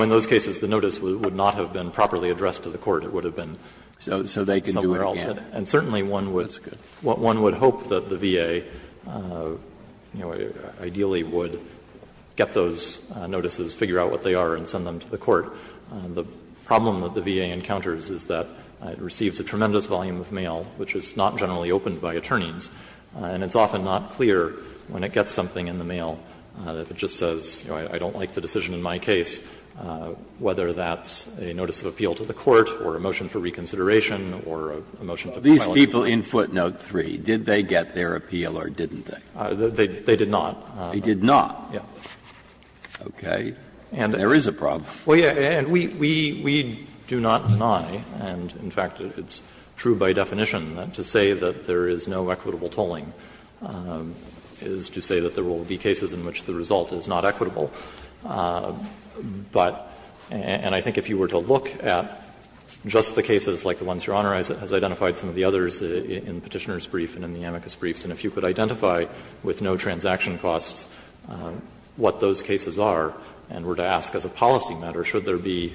in those cases, the notice would not have been properly addressed to the court. It would have been somewhere else. And certainly, one would hope that the VA would have been able to do that. Ideally, would get those notices, figure out what they are and send them to the court. The problem that the VA encounters is that it receives a tremendous volume of mail, which is not generally opened by attorneys, and it's often not clear when it gets something in the mail that it just says, you know, I don't like the decision in my case, whether that's a notice of appeal to the court or a motion for reconsideration or a motion to file a complaint. Breyer, these people in footnote 3, did they get their appeal or didn't they? They did not. They did not? Yes. Okay. There is a problem. Well, yes. And we do not deny, and in fact, it's true by definition, that to say that there is no equitable tolling is to say that there will be cases in which the result is not equitable. But and I think if you were to look at just the cases like the ones Your Honor has identified, some of the others in Petitioner's brief and in the amicus briefs, and if you could identify with no transaction costs what those cases are and were to ask as a policy matter, should there be,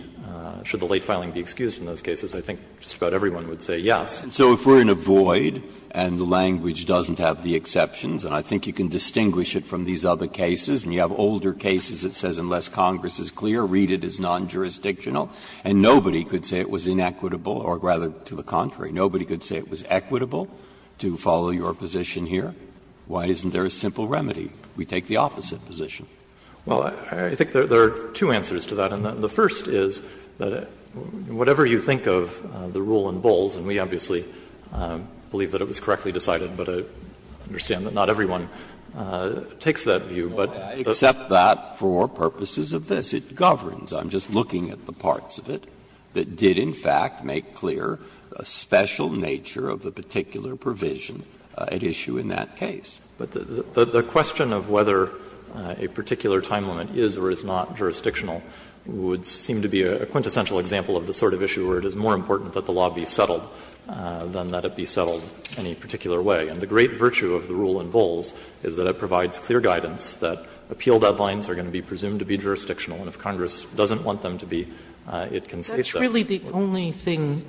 should the late filing be excused in those cases, I think just about everyone would say yes. And so if we're in a void and the language doesn't have the exceptions, and I think you can distinguish it from these other cases, and you have older cases that says unless Congress is clear, read it as non-jurisdictional, and nobody could say it was inequitable, or rather, to the contrary, nobody could say it was equitable to follow your position here, why isn't there a simple remedy? We take the opposite position. Well, I think there are two answers to that, and the first is that whatever you think of the rule in Bowles, and we obviously believe that it was correctly decided, but I understand that not everyone takes that view, but the fact that Justice Breyer's view is that it's not inequitable, it's just that it's not equitable to the parts of it that did, in fact, make clear a special nature of the particular provision at issue in that case. But the question of whether a particular time limit is or is not jurisdictional would seem to be a quintessential example of the sort of issue where it is more important that the law be settled than that it be settled any particular way. And the great virtue of the rule in Bowles is that it provides clear guidance that appeal deadlines are going to be presumed to be jurisdictional, and if Congress doesn't want them to be, it can say so. Sotomayor's That's really the only thing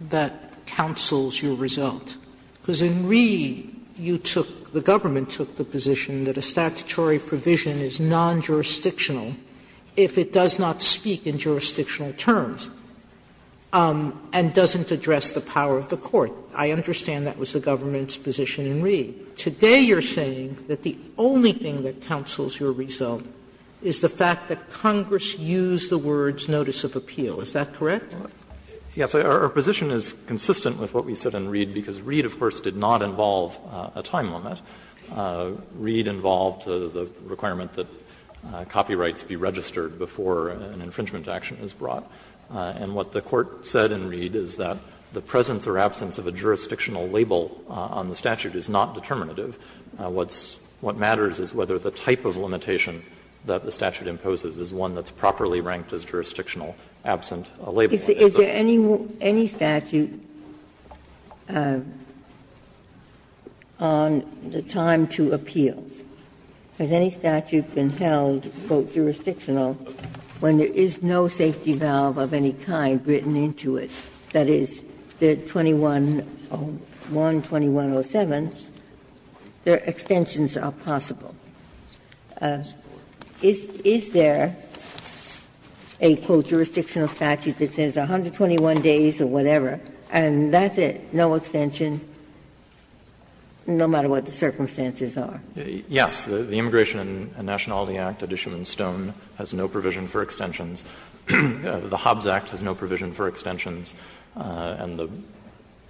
that counsels your result, because in Ree, you took, the government took the position that a statutory provision is non-jurisdictional if it does not speak in jurisdictional terms and doesn't address the power of the court. I understand that was the government's position in Ree. Today you're saying that the only thing that counsels your result is the fact that Congress used the words notice of appeal. Is that correct? Yes. Our position is consistent with what we said in Ree, because Ree, of course, did not involve a time limit. Ree involved the requirement that copyrights be registered before an infringement action is brought. And what the Court said in Ree is that the presence or absence of a jurisdictional label on the statute is not determinative. What matters is whether the type of limitation that the statute imposes is one that's properly ranked as jurisdictional, absent a label. Ginsburg. Is there any statute on the time to appeal? Has any statute been held, quote, jurisdictional when there is no safety valve of any kind written into it? That is, the 2101, 2107, their extensions are possible. Is there a, quote, jurisdictional statute that says 121 days or whatever, and that's it, no extension, no matter what the circumstances are? Yes. The Immigration and Nationality Act, addition in Stone, has no provision for extensions. The Hobbs Act has no provision for extensions. And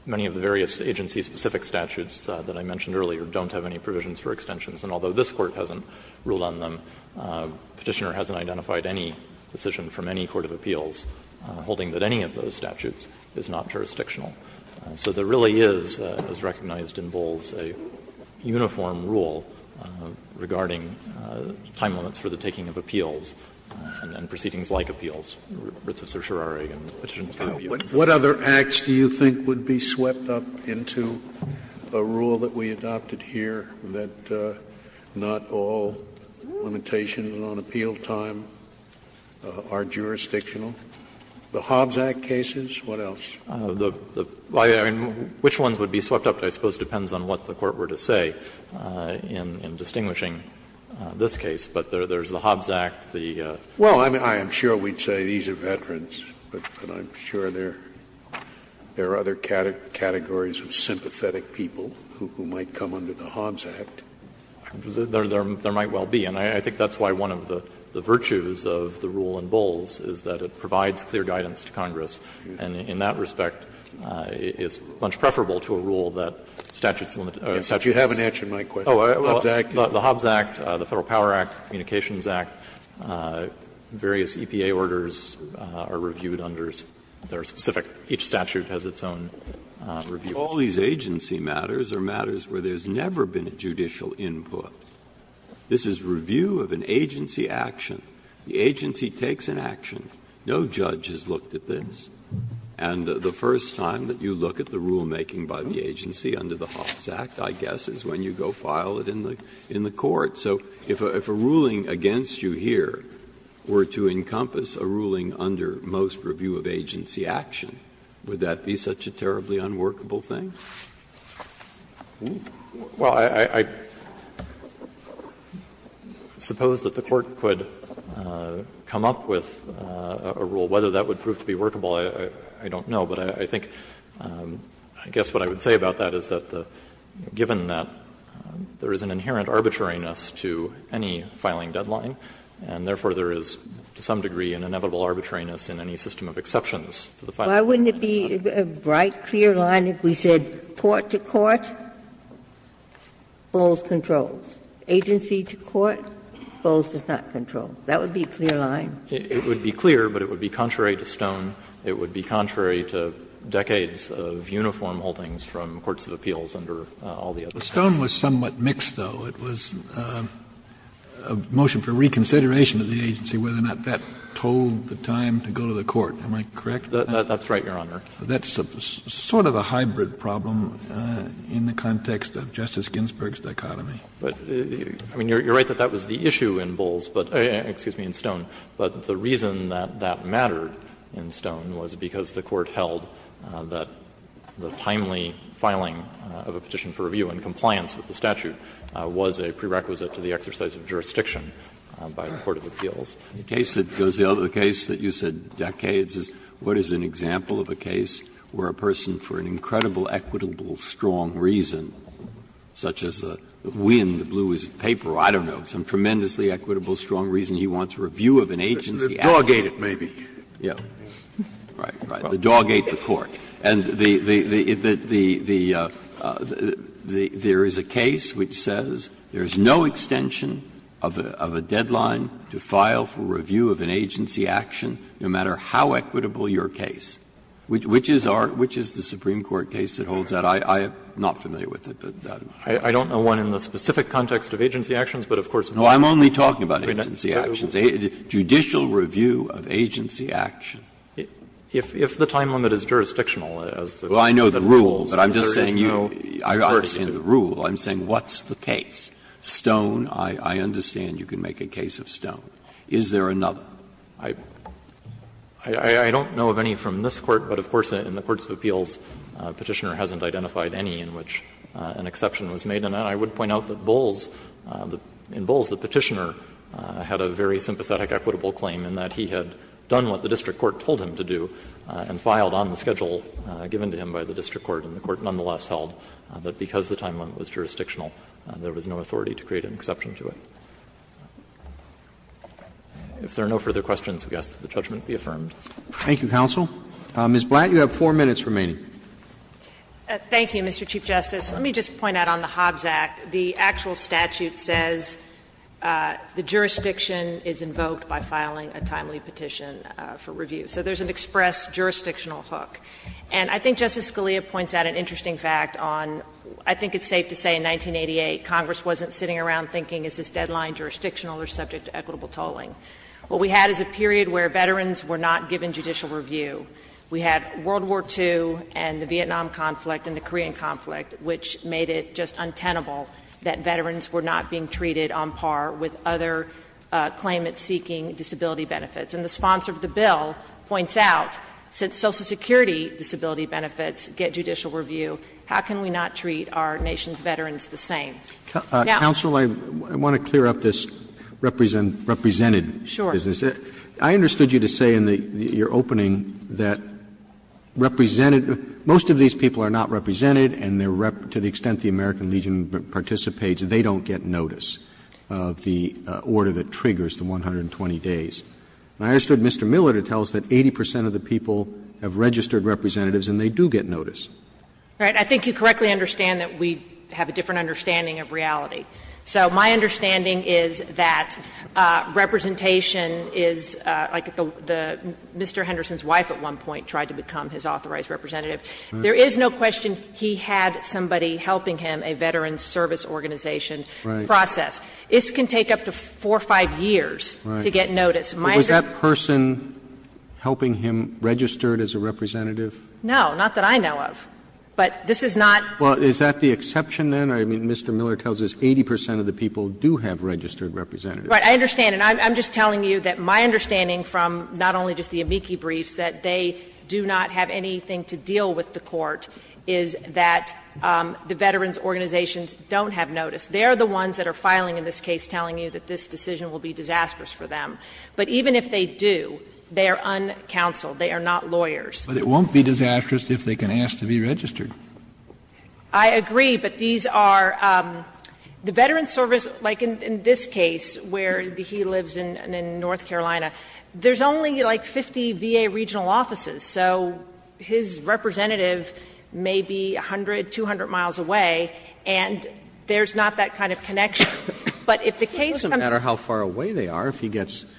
many of the various agency-specific statutes that I mentioned earlier don't have any provisions for extensions. And although this Court hasn't ruled on them, Petitioner hasn't identified any decision from any court of appeals holding that any of those statutes is not jurisdictional. So there really is, as recognized in Bowles, a uniform rule regarding time limits for the taking of appeals and proceedings like appeals, writs of certiorari and petitions for review. Scalia, what other acts do you think would be swept up into a rule that we adopted here that not all limitations on appeal time are jurisdictional? The Hobbs Act cases, what else? I mean, which ones would be swept up, I suppose, depends on what the Court were to say in distinguishing this case. But there's the Hobbs Act, the other. Well, I'm sure we'd say these are veterans, but I'm sure there are other categories of sympathetic people who might come under the Hobbs Act. There might well be, and I think that's why one of the virtues of the rule in Bowles is that it provides clear guidance to Congress, and in that respect, it's much preferable to a rule that statutes limit. But you haven't answered my question. The Hobbs Act, the Federal Power Act, Communications Act, various EPA orders are reviewed under their specific – each statute has its own review. All these agency matters are matters where there's never been a judicial input. This is review of an agency action. The agency takes an action. No judge has looked at this. And the first time that you look at the rulemaking by the agency under the Hobbs Act, I guess, is when you go file it in the court. So if a ruling against you here were to encompass a ruling under most review of agency action, would that be such a terribly unworkable thing? Well, I suppose that the Court could come up with a rule. Whether that would prove to be workable, I don't know. But I think, I guess what I would say about that is that, given that there is an inherent arbitrariness to any filing deadline, and therefore there is to some degree an inevitable arbitrariness in any system of exceptions to the filing deadline. Why wouldn't it be a bright, clear line if we said court to court, Bowles controls. Agency to court, Bowles does not control. That would be a clear line. It would be clear, but it would be contrary to Stone. It would be contrary to decades of uniform holdings from courts of appeals under all the others. Kennedy, Stone was somewhat mixed, though. It was a motion for reconsideration of the agency, whether or not that told the time to go to the court. Am I correct? That's right, Your Honor. That's sort of a hybrid problem in the context of Justice Ginsburg's dichotomy. But, I mean, you're right that that was the issue in Bowles, but excuse me, in Stone. But the reason that that mattered in Stone was because the Court held that the timely filing of a petition for review in compliance with the statute was a prerequisite to the exercise of jurisdiction by the court of appeals. Breyer, The case that goes the other case that you said decades is what is an example of a case where a person for an incredible, equitable, strong reason, such as the wind, the blue is paper, I don't know, some tremendously equitable, strong reason he wants a review of an agency action. Scalia, The dog ate it, maybe. Breyer, Right, right, the dog ate the court. And the the the the the the there is a case which says there is no extension of a deadline to file for review of an agency action, no matter how equitable your case. Which is our, which is the Supreme Court case that holds that? I'm not familiar with it. I don't know one in the specific context of agency actions, but of course, Breyer, No, I'm only talking about agency actions. Judicial review of agency action. If the time limit is jurisdictional, as the rules, then there is no coercion. Breyer, I know the rules, but I'm just saying you, I understand the rule. I'm saying what's the case? Stone, I understand you can make a case of Stone. Is there another? I don't know of any from this Court, but of course, in the courts of appeals, Petitioner hasn't identified any in which an exception was made. And I would point out that Bowles, in Bowles, the Petitioner had a very sympathetic equitable claim in that he had done what the district court told him to do and filed on the schedule given to him by the district court, and the court nonetheless held that because the time limit was jurisdictional, there was no authority to create an exception to it. If there are no further questions, we ask that the judgment be affirmed. Roberts. Thank you, counsel. Ms. Blatt, you have four minutes remaining. Blatt, thank you, Mr. Chief Justice. Let me just point out on the Hobbs Act, the actual statute says the jurisdiction is invoked by filing a timely petition for review. So there's an express jurisdictional hook. And I think Justice Scalia points out an interesting fact on, I think it's safe to say in 1988 Congress wasn't sitting around thinking is this deadline jurisdictional or subject to equitable tolling. What we had is a period where veterans were not given judicial review. We had World War II and the Vietnam conflict and the Korean conflict, which made it just untenable that veterans were not being treated on par with other claimants seeking disability benefits. And the sponsor of the bill points out, since Social Security disability benefits get judicial review, how can we not treat our nation's veterans the same? Counsel, I want to clear up this represented business. I understood you to say in your opening that represented — most of these people are not represented and to the extent the American Legion participates, they don't get notice of the order that triggers the 120 days. And I understood Mr. Miller to tell us that 80 percent of the people have registered representatives and they do get notice. Blatt. I think you correctly understand that we have a different understanding of reality. So my understanding is that representation is like the — Mr. Henderson's wife at one point tried to become his authorized representative. There is no question he had somebody helping him, a veterans service organization process. This can take up to 4 or 5 years to get notice. My understanding is that this is not the case. Roberts, was that person helping him registered as a representative? No, not that I know of. But this is not. Well, is that the exception then? I mean, Mr. Miller tells us 80 percent of the people do have registered representatives. Right. I understand. And I'm just telling you that my understanding from not only just the amici briefs, that they do not have anything to deal with the court, is that the veterans organizations don't have notice. They are the ones that are filing in this case telling you that this decision will be disastrous for them. But even if they do, they are uncounseled. They are not lawyers. But it won't be disastrous if they can ask to be registered. I agree, but these are the veterans service, like in this case where he lives in North Carolina, there's only like 50 VA regional offices. So his representative may be 100, 200 miles away, and there's not that kind of connection. But if the case comes to us. It doesn't matter how far away they are if he gets notice.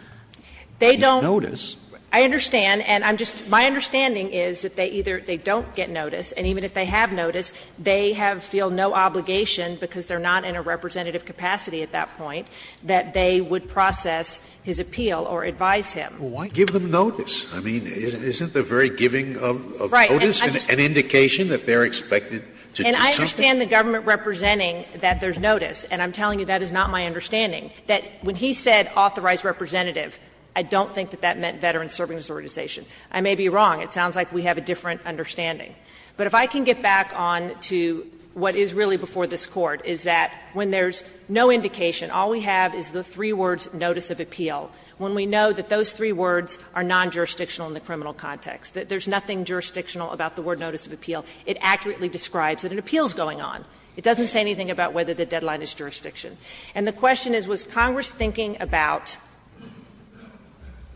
They don't – I understand. And I'm just – my understanding is that they either they don't get notice, and even if they have notice, they have – feel no obligation, because they are not in a representative capacity at that point, that they would process his appeal or advise him. Scalia Well, why give them notice? I mean, isn't the very giving of notice an indication that they are expected to do something? And I understand the government representing that there's notice, and I'm telling you that is not my understanding. That when he said authorized representative, I don't think that that meant veterans service organization. I may be wrong. It sounds like we have a different understanding. But if I can get back on to what is really before this Court, is that when there's no indication, all we have is the three words, notice of appeal. When we know that those three words are non-jurisdictional in the criminal context, that there's nothing jurisdictional about the word notice of appeal, it accurately describes that an appeal is going on. It doesn't say anything about whether the deadline is jurisdiction. And the question is, was Congress thinking about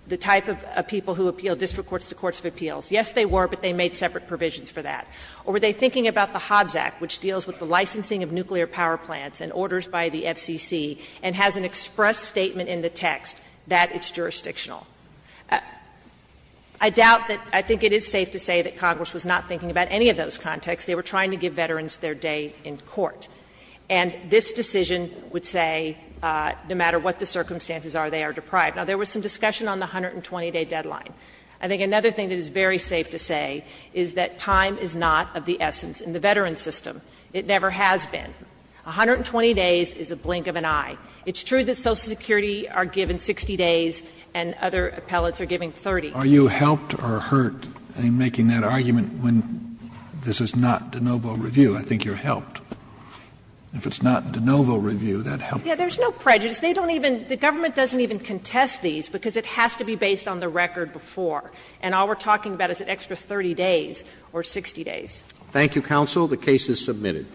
the type of people who appeal district courts to courts of appeals? Yes, they were, but they made separate provisions for that. Or were they thinking about the Hobbs Act, which deals with the licensing of nuclear power plants and orders by the FCC, and has an express statement in the text that it's jurisdictional? I doubt that, I think it is safe to say that Congress was not thinking about any of those contexts. They were trying to give veterans their day in court. And this decision would say, no matter what the circumstances are, they are deprived. Now, there was some discussion on the 120-day deadline. I think another thing that is very safe to say is that time is not of the essence in the veteran system. It never has been. 120 days is a blink of an eye. It's true that Social Security are given 60 days and other appellates are given 30. Are you helped or hurt in making that argument when this is not de novo review? I think you're helped. If it's not de novo review, that helps. Yes, there's no prejudice. They don't even – the government doesn't even contest these, because it has to be based on the record before. And all we're talking about is an extra 30 days or 60 days. Thank you, counsel. The case is submitted.